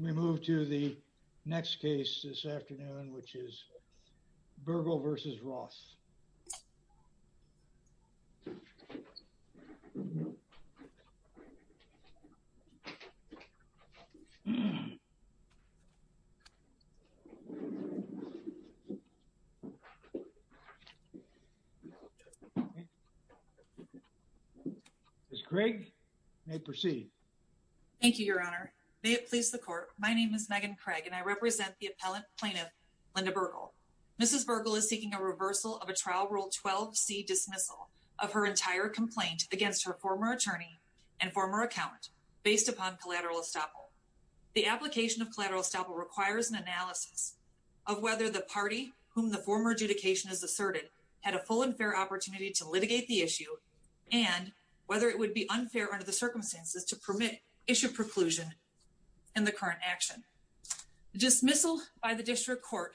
We move to the next case this afternoon which is Bergal v. Roth. Ms. Craig, you may proceed. Thank you, Your Honor. May it please the Court, my name is Megan Craig and I represent the appellant plaintiff Linda Bergal. Ms. Bergal is seeking a reversal of a trial rule 12C dismissal of her entire complaint against her former attorney and former accountant based upon collateral estoppel. The application of collateral estoppel requires an analysis of whether the party whom the former adjudication has asserted had a full and fair opportunity to litigate the issue and whether it would be unfair under the circumstances to permit issue preclusion in the current action. The dismissal by the district court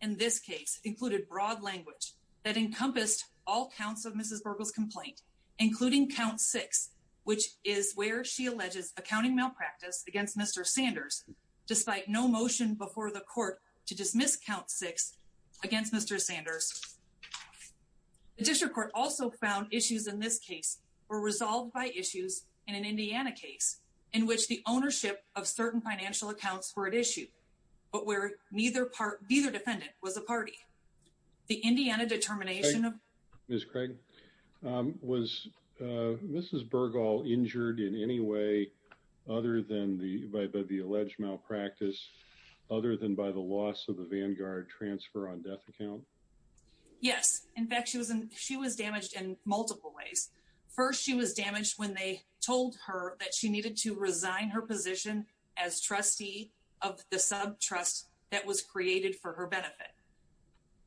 in this case included broad language that encompassed all counts of Ms. Bergal's complaint including count six which is where she alleges accounting malpractice against Mr. Sanders despite no motion before the court to dismiss count six against Mr. Sanders. The district court also found issues in this case were resolved by issues in an Indiana case in which the ownership of certain financial accounts were at issue but where neither defendant was a party. The Indiana determination of Ms. Craig, was Mrs. Bergal injured in any way other than by the alleged malpractice other than by the loss of the Vanguard transfer on death account? Yes. In fact, she was damaged in multiple ways. First she was damaged when they told her that she needed to resign her position as trustee of the sub trust that was created for her benefit.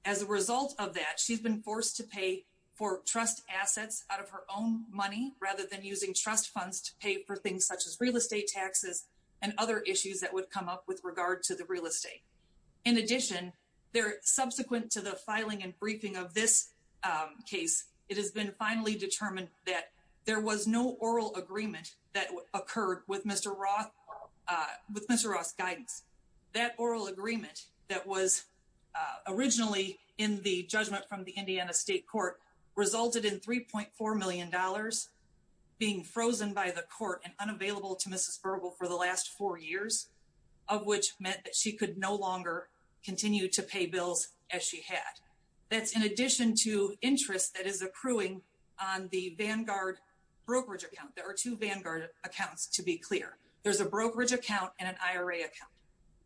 As a result of that, she's been forced to pay for trust assets out of her own money rather than using trust funds to pay for things such as real estate taxes and other issues that would come up with regard to the real estate. In addition, they're subsequent to the filing and briefing of this case, it has been finally determined that there was no oral agreement that occurred with Mr. Roth with Mr. Ross guidance that oral agreement that was originally in the judgment from the Indiana State Court resulted in $3.4 million being frozen by the court and unavailable to Mrs. Bergal for the last four years, of which meant that she could no longer continue to pay bills as she had. That's in addition to interest that is accruing on the Vanguard brokerage account, there are two Vanguard accounts to be clear, there's a brokerage account and an IRA account.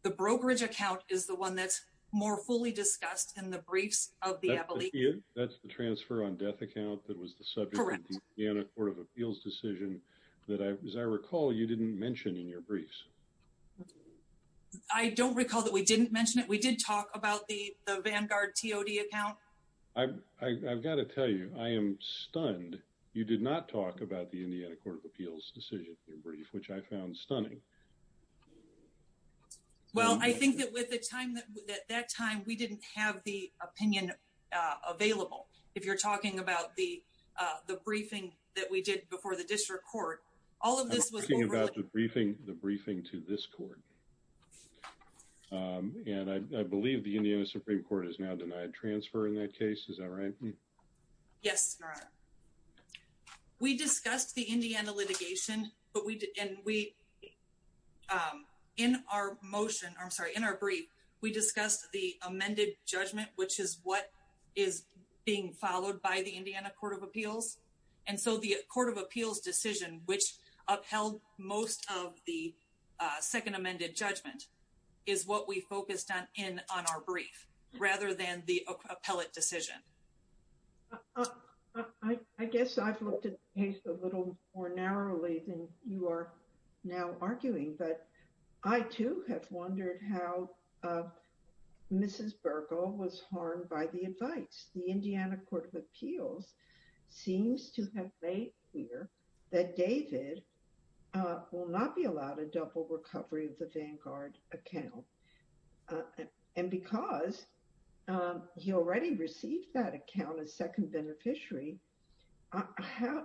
The brokerage account is the one that's more fully discussed in the briefs of the death account that was the subject of the Indiana Court of Appeals decision that, as I recall, you didn't mention in your briefs. I don't recall that we didn't mention it, we did talk about the Vanguard TOD account. I've got to tell you, I am stunned you did not talk about the Indiana Court of Appeals decision in your brief, which I found stunning. Well I think that at that time we didn't have the opinion available. If you're talking about the briefing that we did before the district court, all of this was- I'm talking about the briefing to this court, and I believe the Indiana Supreme Court is now denied transfer in that case, is that right? Yes, Your Honor. We discussed the Indiana litigation, and in our brief, we discussed the amended judgment, which is what is being followed by the Indiana Court of Appeals. And so the Court of Appeals decision, which upheld most of the second amended judgment, is what we focused on in our brief, rather than the appellate decision. I guess I've looked at the case a little more narrowly than you are now arguing, but I too have wondered how Mrs. Burkle was harmed by the advice. The Indiana Court of Appeals seems to have made clear that David will not be allowed a double recovery of the Vanguard account, and because he already received that account as second beneficiary, how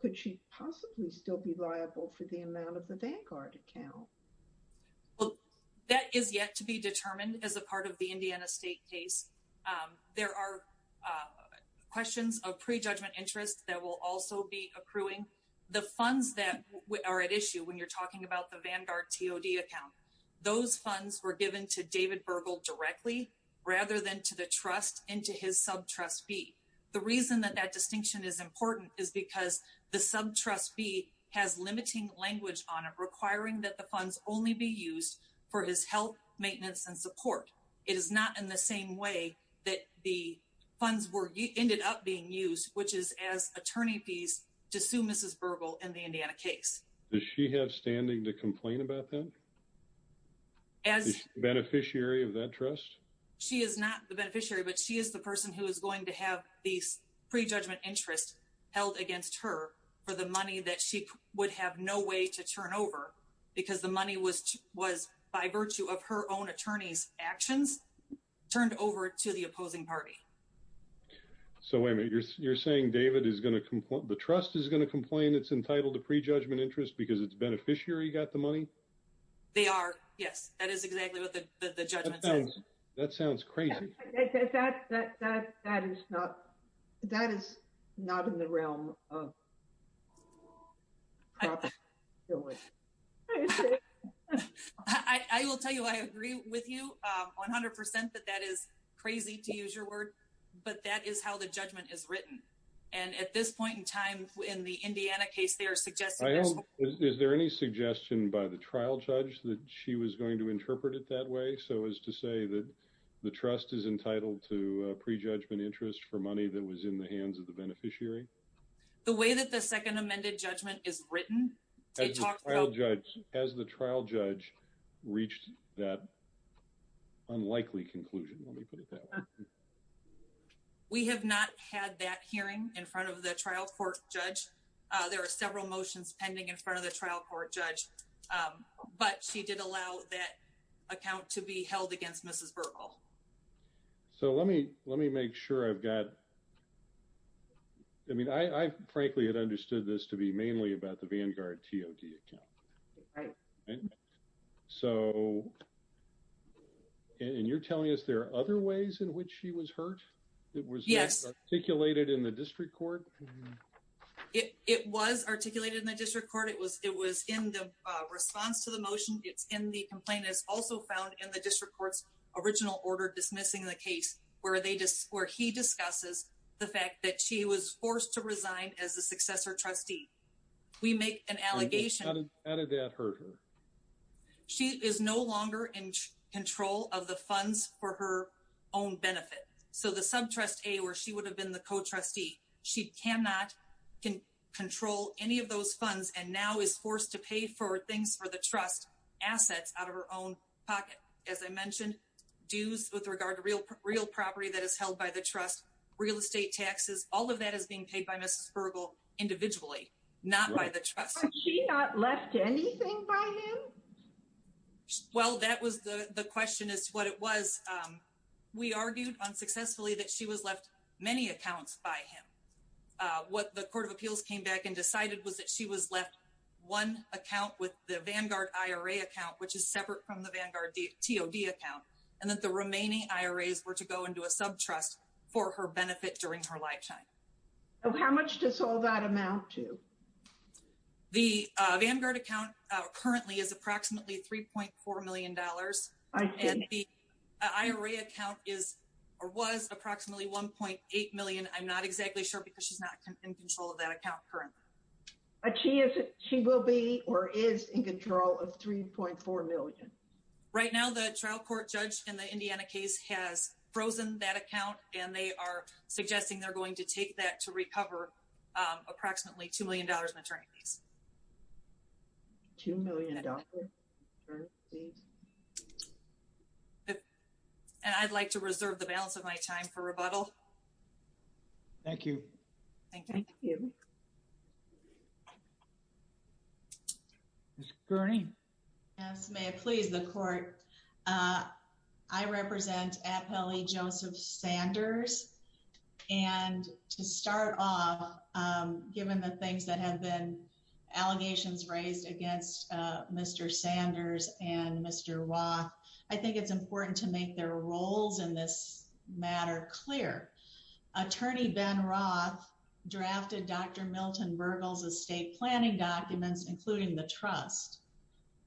could she possibly still be liable for the amount of the Vanguard account? Well, that is yet to be determined as a part of the Indiana State case. There are questions of prejudgment interest that will also be accruing. The funds that are at issue, when you're talking about the Vanguard TOD account, those funds were given to David Burkle directly, rather than to the trust and to his sub-trustee. The reason that that distinction is important is because the sub-trustee has limiting language on it, requiring that the funds only be used for his health, maintenance, and support. It is not in the same way that the funds ended up being used, which is as attorney fees, to sue Mrs. Burkle in the Indiana case. Does she have standing to complain about that? As beneficiary of that trust? She is not the beneficiary, but she is the person who is going to have these prejudgment interest held against her for the money that she would have no way to turn over, because the money was, by virtue of her own attorney's actions, turned over to the opposing party. So wait a minute, you're saying David is going to complain, the trust is going to complain it's entitled to prejudgment interest because its beneficiary got the money? They are, yes. That is exactly what the judgment says. That sounds crazy. That is not in the realm of proper judgment. I will tell you, I agree with you 100% that that is crazy to use your word, but that is how the judgment is written. And at this point in time, in the Indiana case, they are suggesting this. Is there any suggestion by the trial judge that she was going to interpret it that way? Do you think so, as to say that the trust is entitled to prejudgment interest for money that was in the hands of the beneficiary? The way that the second amended judgment is written, it talks about... Has the trial judge reached that unlikely conclusion? Let me put it that way. We have not had that hearing in front of the trial court judge. There are several motions pending in front of the trial court judge, but she did allow that account to be held against Mrs. Burkle. So let me make sure I've got... I mean, I frankly had understood this to be mainly about the Vanguard TOD account. So, and you're telling us there are other ways in which she was hurt? It was articulated in the district court? It was articulated in the district court. It was in the response to the motion. It's in the complaint. It's also found in the district court's original order dismissing the case, where he discusses the fact that she was forced to resign as a successor trustee. We make an allegation. How did that hurt her? She is no longer in control of the funds for her own benefit. So the subtrust A, where she would have been the co-trustee, she cannot control any of those funds and now is forced to pay for things for the trust assets out of her own pocket. As I mentioned, dues with regard to real property that is held by the trust, real estate taxes, all of that is being paid by Mrs. Burkle individually, not by the trust. Was she not left anything by him? Well, that was the question is what it was. We argued unsuccessfully that she was left many accounts by him. What the Court of Appeals came back and decided was that she was left one account with the Vanguard IRA account, which is separate from the Vanguard TOD account, and that the remaining IRAs were to go into a subtrust for her benefit during her lifetime. How much does all that amount to? The Vanguard account currently is approximately $3.4 million. And the IRA account is or was approximately $1.8 million. I'm not exactly sure because she's not in control of that account currently. She will be or is in control of $3.4 million. Right now, the trial court judge in the Indiana case has frozen that account and they are suggesting they're going to take that to recover approximately $2 million in attorneys fees. $2 million in attorneys fees? And I'd like to reserve the balance of my time for rebuttal. Thank you. Thank you. Ms. Gurney. Yes, may it please the Court. I represent Appellee Joseph Sanders. And to start off, given the things that have been allegations raised against Mr. Sanders and Mr. Roth, I think it's important to make their roles in this matter clear. Attorney Ben Roth drafted Dr. Milton Bergel's estate planning documents, including the trust,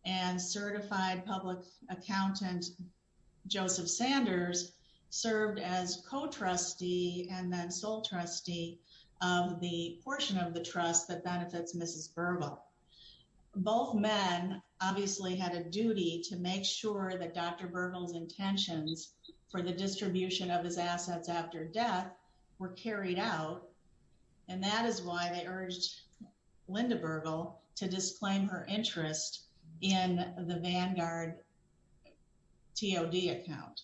and certified public accountant Joseph Sanders served as co-trustee and then sole trustee of the portion of the trust that benefits Mrs. Bergel. Both men obviously had a duty to make sure that Dr. Bergel's intentions for the distribution of his assets after death were carried out. And that is why they urged Linda Bergel to disclaim her interest in the Vanguard TOD account.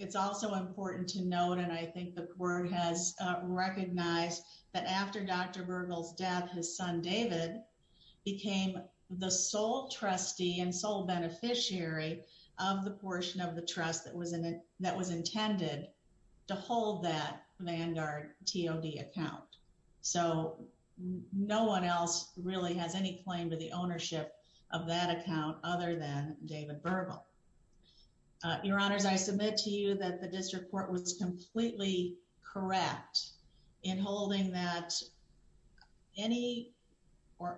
It's also important to note, and I think the Court has recognized, that after Dr. Bergel's death, his son, David, became the sole trustee and sole beneficiary of the portion of the trust that was intended to hold that Vanguard TOD account. So, no one else really has any claim to the ownership of that account other than David Bergel. Your Honors, I submit to you that the District Court was completely correct in holding that any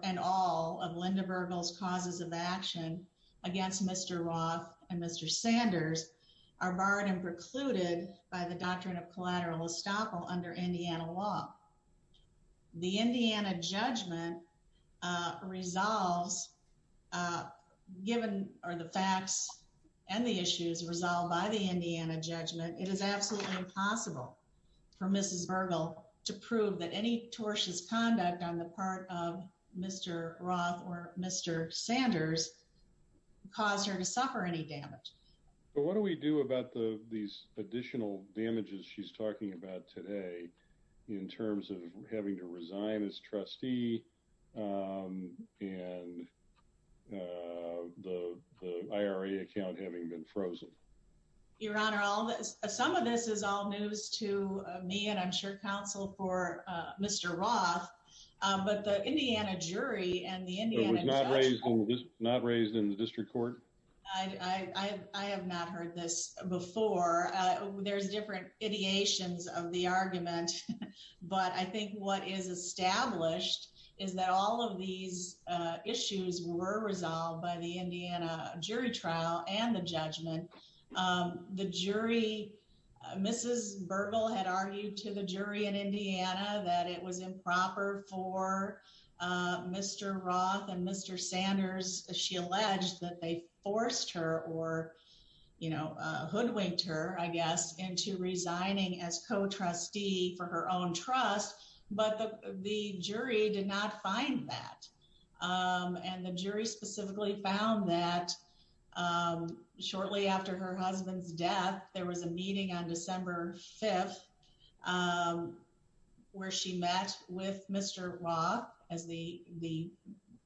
and all of Linda Bergel's causes of action against Mr. Roth and Mr. Sanders are barred and precluded by the doctrine of collateral estoppel under Indiana law. The Indiana judgment resolves, given the facts and the issues resolved by the Indiana judgment, it is absolutely impossible for Mrs. Bergel to prove that any tortious conduct on the part of Mr. Roth or Mr. Sanders caused her to suffer any damage. But what do we do about these additional damages she's talking about today in terms of having to resign as trustee and the IRA account having been frozen? Your Honor, some of this is all news to me and I'm sure counsel for Mr. Roth, but the Indiana jury and the Indiana judgment... It was not raised in the District Court? I have not heard this before. There's different ideations of the argument, but I think what is established is that all of these issues were resolved by the Indiana jury trial and the judgment. Mrs. Bergel had argued to the jury in Indiana that it was improper for Mr. Roth and Mr. Sanders. She alleged that they forced her or hoodwinked her, I guess, into resigning as co-trustee for her own trust, but the jury did not find that. And the jury specifically found that shortly after her husband's death, there was a meeting on December 5th where she met with Mr. Roth as the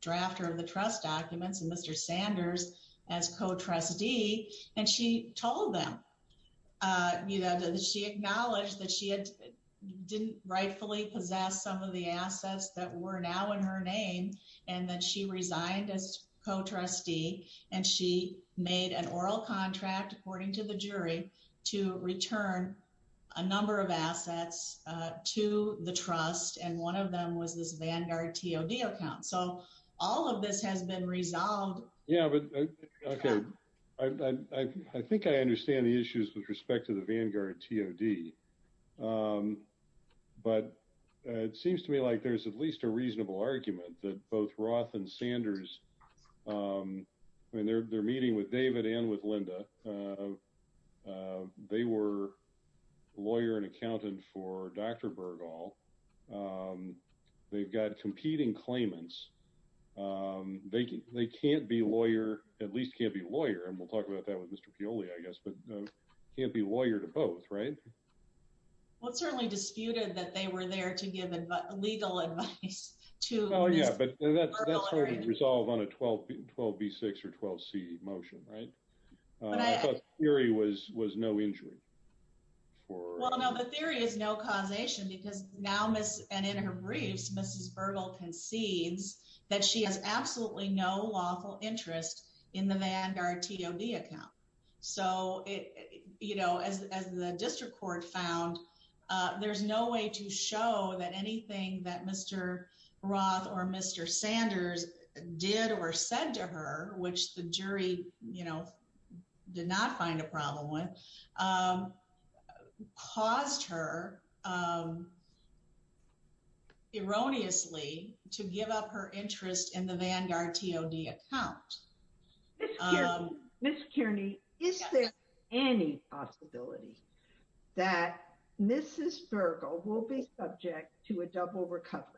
drafter of the trust documents and Mr. Sanders as co-trustee. And she told them that she acknowledged that she didn't rightfully possess some of the assets that were now in her name and that she resigned as co-trustee and she made an oral contract, according to the jury, to return a number of assets to the trust. And one of them was this Vanguard TOD account. So all of this has been resolved. Yeah, but I think I understand the issues with respect to the Vanguard TOD, but it seems to me like there's at least a reasonable argument that both Roth and Sanders, when they're meeting with David and with Linda, they were lawyer and accountant for Dr. Bergel. They've got competing claimants. They can't be a lawyer, at least can't be a lawyer, and we'll talk about that with Mr. Peoli, I guess, but can't be a lawyer to both, right? Well, it's certainly disputed that they were there to give legal advice to Ms. Bergel. Oh, yeah, but that's hard to resolve on a 12B6 or 12C motion, right? I thought the theory was no injury. Well, no, the theory is no causation because now, and in her briefs, Mrs. Bergel concedes that she has absolutely no lawful interest in the Vanguard TOD account. So as the district court found, there's no way to show that anything that Mr. Roth or Mr. Sanders did or said to her, which the jury did not find a problem with, caused her erroneously to give up her interest in the Vanguard TOD account. Ms. Kearney, is there any possibility that Mrs. Bergel will be subject to a double recovery?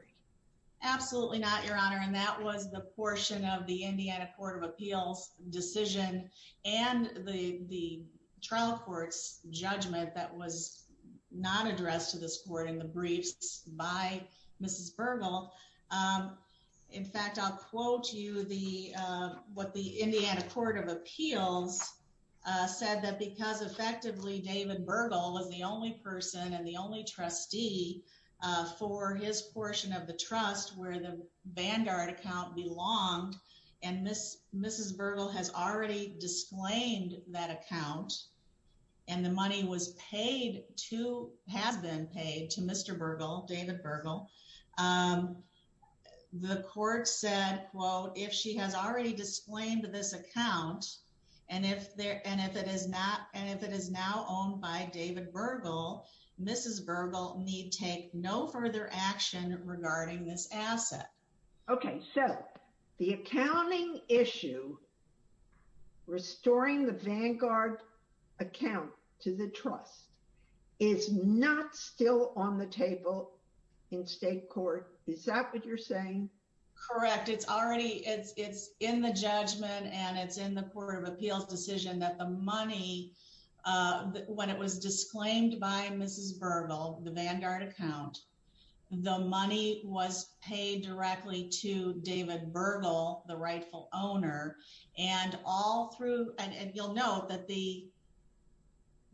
Absolutely not, Your Honor, and that was the portion of the Indiana Court of Appeals decision and the trial court's judgment that was not addressed to this court in the briefs by Mrs. Bergel. In fact, I'll quote you what the Indiana Court of Appeals said, that because effectively David Bergel was the only person and the only trustee for his portion of the trust where the Vanguard account belonged, and Mrs. Bergel has already disclaimed that account, and the money was paid to, has been paid to Mr. Bergel, David Bergel. The court said, quote, if she has already disclaimed this account, and if it is not, and if it is now owned by David Bergel, Mrs. Bergel need take no further action regarding this asset. Okay, so the accounting issue, restoring the Vanguard account to the trust, is not still on the table in state court. Is that what you're saying? Correct, it's already, it's in the judgment and it's in the Court of Appeals decision that the money, when it was disclaimed by Mrs. Bergel, the Vanguard account, the money was paid directly to David Bergel, the rightful owner, and all through, and you'll note that the,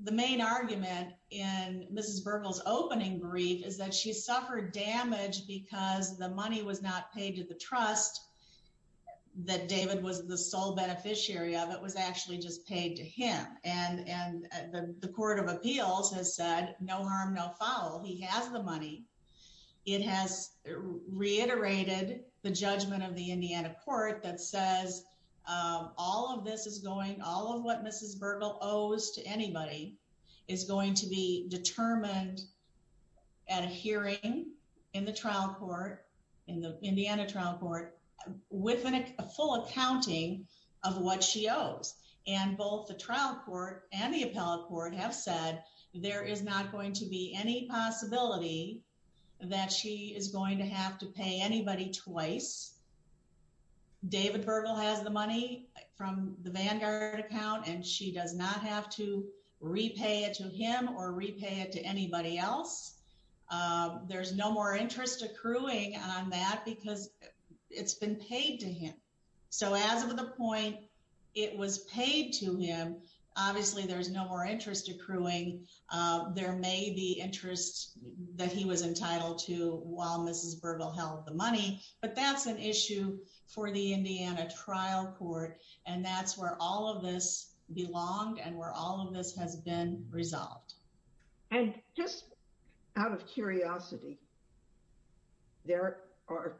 the main argument in Mrs. Bergel's opening brief is that she suffered damage because the money was not paid to the trust that David was the sole beneficiary of, it was actually just paid to him. And the Court of Appeals has said, no harm, no foul, he has the money. It has reiterated the judgment of the Indiana court that says all of this is going, all of what Mrs. Bergel owes to anybody is going to be determined at a hearing in the trial court, in the Indiana trial court, with a full accounting of what she owes. And both the trial court and the appellate court have said there is not going to be any possibility that she is going to have to pay anybody twice. David Bergel has the money from the Vanguard account and she does not have to repay it to him or repay it to anybody else. There's no more interest accruing on that because it's been paid to him. So as of the point it was paid to him, obviously there's no more interest accruing. There may be interest that he was entitled to while Mrs. Bergel held the money, but that's an issue for the Indiana trial court. And that's where all of this belonged and where all of this has been resolved. And just out of curiosity, there are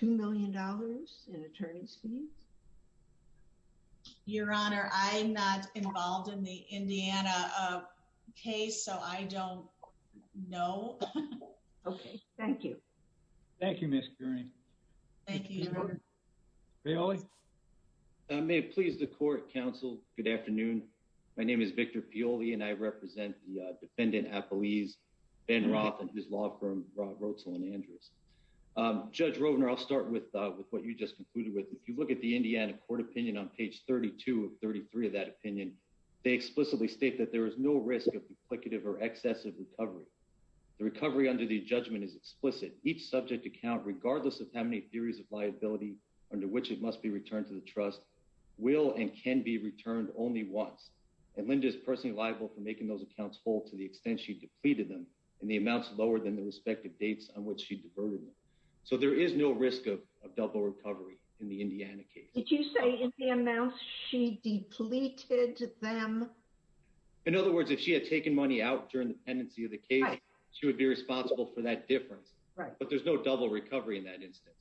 $2 million in attorney's fees? Your Honor, I'm not involved in the Indiana case, so I don't know. Okay. Thank you. Thank you, Ms. Gurney. Thank you, Your Honor. Victor Pioli? May it please the court, counsel, good afternoon. My name is Victor Pioli and I represent the defendant appellees Ben Roth and his law firm, Roth, Roetzel & Andrews. Judge Rovner, I'll start with what you just concluded with. If you look at the Indiana court opinion on page 32 of 33 of that opinion, they explicitly state that there is no risk of duplicative or excessive recovery. The recovery under the judgment is explicit. Each subject account, regardless of how many theories of liability under which it must be returned to the trust, will and can be returned only once. And Linda is personally liable for making those accounts whole to the extent she depleted them in the amounts lower than the respective dates on which she diverted them. So there is no risk of double recovery in the Indiana case. Did you say in the amounts she depleted them? In other words, if she had taken money out during the pendency of the case, she would be responsible for that difference. But there's no double recovery in that instance.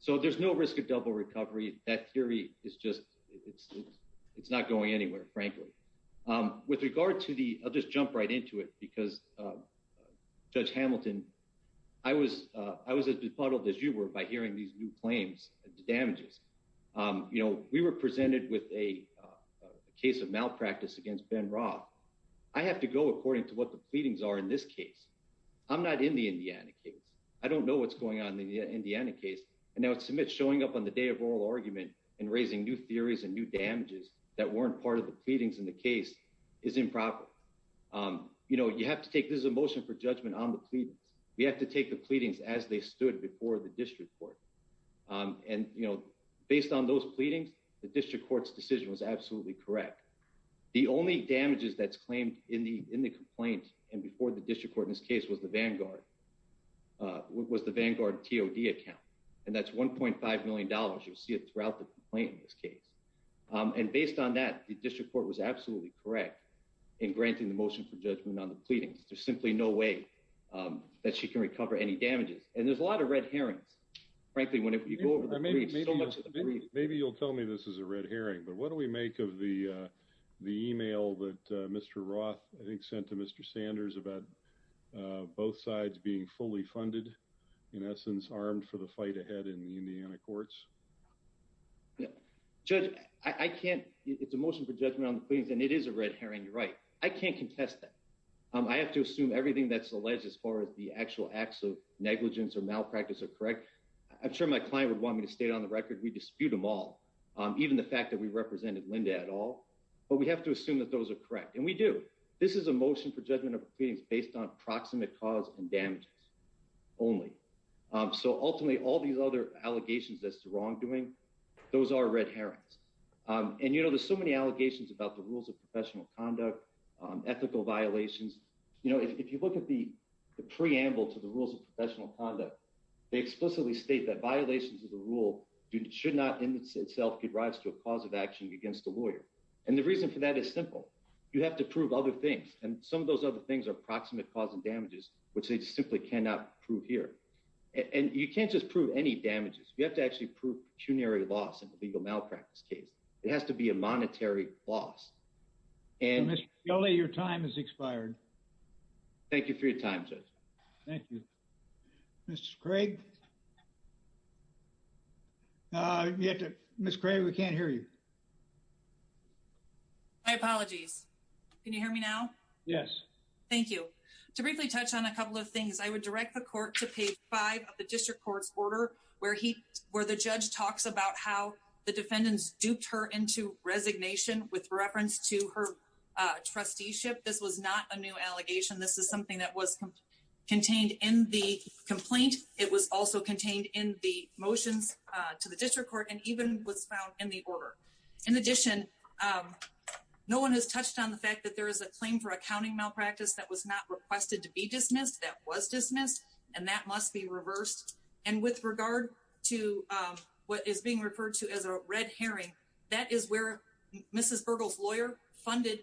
So there's no risk of double recovery. That theory is just, it's not going anywhere, frankly. With regard to the, I'll just jump right into it, because Judge Hamilton, I was as befuddled as you were by hearing these new claims, the damages. You know, we were presented with a case of malpractice against Ben Roth. I have to go according to what the pleadings are in this case. I'm not in the Indiana case. I don't know what's going on in the Indiana case. And now it's showing up on the day of oral argument and raising new theories and new damages that weren't part of the pleadings in the case is improper. You know, you have to take, this is a motion for judgment on the pleadings. We have to take the pleadings as they stood before the district court. And, you know, based on those pleadings, the district court's decision was absolutely correct. The only damages that's claimed in the complaint and before the district court in this case was the Vanguard, was the Vanguard TOD account. And that's $1.5 million. You'll see it throughout the complaint in this case. And based on that, the district court was absolutely correct in granting the motion for judgment on the pleadings. There's simply no way that she can recover any damages. And there's a lot of red herrings, frankly, when you go over the briefs. Maybe you'll tell me this is a red herring, but what do we make of the email that Mr. Roth, I think, sent to Mr. Sanders about both sides being fully funded, in essence, armed for the fight ahead in the Indiana courts? Judge, I can't, it's a motion for judgment on the pleadings and it is a red herring, you're right. I can't contest that. I have to assume everything that's alleged as far as the actual acts of negligence or malpractice are correct. I'm sure my client would want me to state on the record, we dispute them all. Even the fact that we represented Linda at all, but we have to assume that those are correct. And we do. This is a motion for judgment of the pleadings based on proximate cause and damages only. So ultimately, all these other allegations as to wrongdoing, those are red herrings. And, you know, there's so many allegations about the rules of professional conduct, ethical violations. You know, if you look at the preamble to the rules of professional conduct, they explicitly state that violations of the rule should not in itself give rise to a cause of action against a lawyer. And the reason for that is simple. You have to prove other things. And some of those other things are proximate cause and damages, which they simply cannot prove here. And you can't just prove any damages. You have to actually prove pecuniary loss in a legal malpractice case. It has to be a monetary loss. Mr. Kelly, your time has expired. Thank you for your time, Judge. Thank you. Ms. Craig. Ms. Craig, we can't hear you. My apologies. Can you hear me now? Yes. Thank you. To briefly touch on a couple of things. I would direct the court to page five of the district court's order where the judge talks about how the defendants duped her into resignation with reference to her trusteeship. This was not a new allegation. This is something that was contained in the complaint. It was also contained in the motions to the district court and even was found in the order. In addition, no one has touched on the fact that there is a claim for accounting malpractice that was not requested to be dismissed, that was dismissed, and that must be reversed. And with regard to what is being referred to as a red herring, that is where Mrs. Burgle's lawyer funded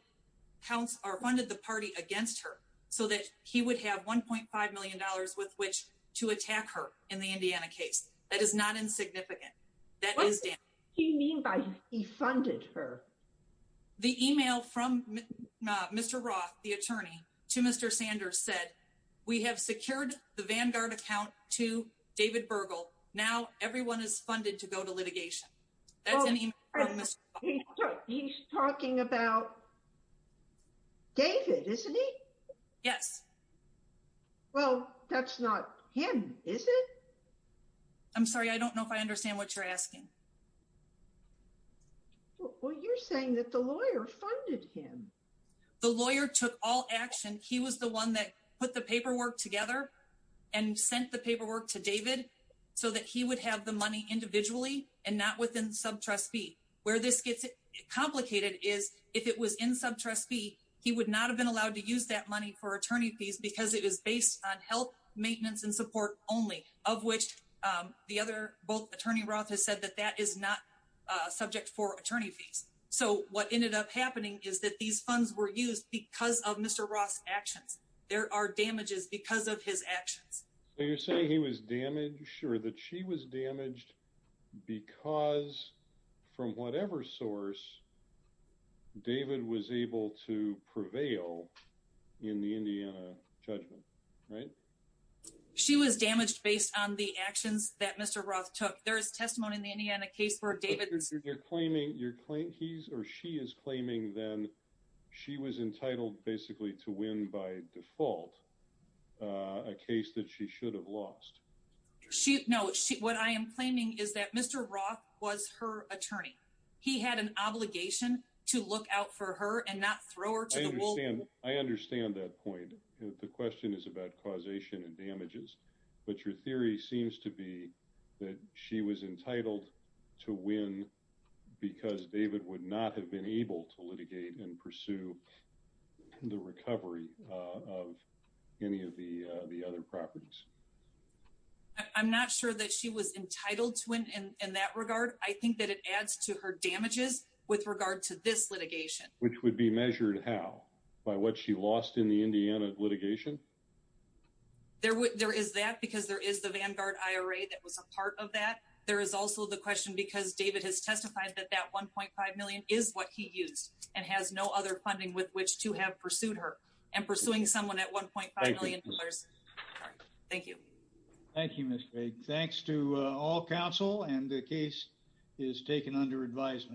the party against her so that he would have $1.5 million with which to attack her in the Indiana case. That is not insignificant. What does he mean by he funded her? The email from Mr. Roth, the attorney, to Mr. Sanders said, we have secured the Vanguard account to David Burgle. Now everyone is funded to go to litigation. He's talking about David, isn't he? Yes. Well, that's not him, is it? I'm sorry, I don't know if I understand what you're asking. Well, you're saying that the lawyer funded him. The lawyer took all action. He was the one that put the paperwork together and sent the paperwork to David so that he would have the money individually and not within subtrust fee. Of which the other both Attorney Roth has said that that is not subject for attorney fees. So what ended up happening is that these funds were used because of Mr. Roth's actions. There are damages because of his actions. So you're saying he was damaged, sure, that she was damaged because from whatever source David was able to prevail in the Indiana judgment, right? She was damaged based on the actions that Mr. Roth took. There is testimony in the Indiana case where David... You're claiming, you're claiming, he's or she is claiming then she was entitled basically to win by default a case that she should have lost. She, no, what I am claiming is that Mr. Roth was her attorney. He had an obligation to look out for her and not throw her to the wolves. I understand that point. The question is about causation and damages, but your theory seems to be that she was entitled to win because David would not have been able to litigate and pursue the recovery of any of the other properties. I'm not sure that she was entitled to win in that regard. I think that it adds to her damages with regard to this litigation. Which would be measured how? By what she lost in the Indiana litigation? There is that because there is the Vanguard IRA that was a part of that. There is also the question because David has testified that that $1.5 million is what he used and has no other funding with which to have pursued her and pursuing someone at $1.5 million. Thank you. Thank you, Ms. Craig. Thanks to all counsel and the case is taken under advisement.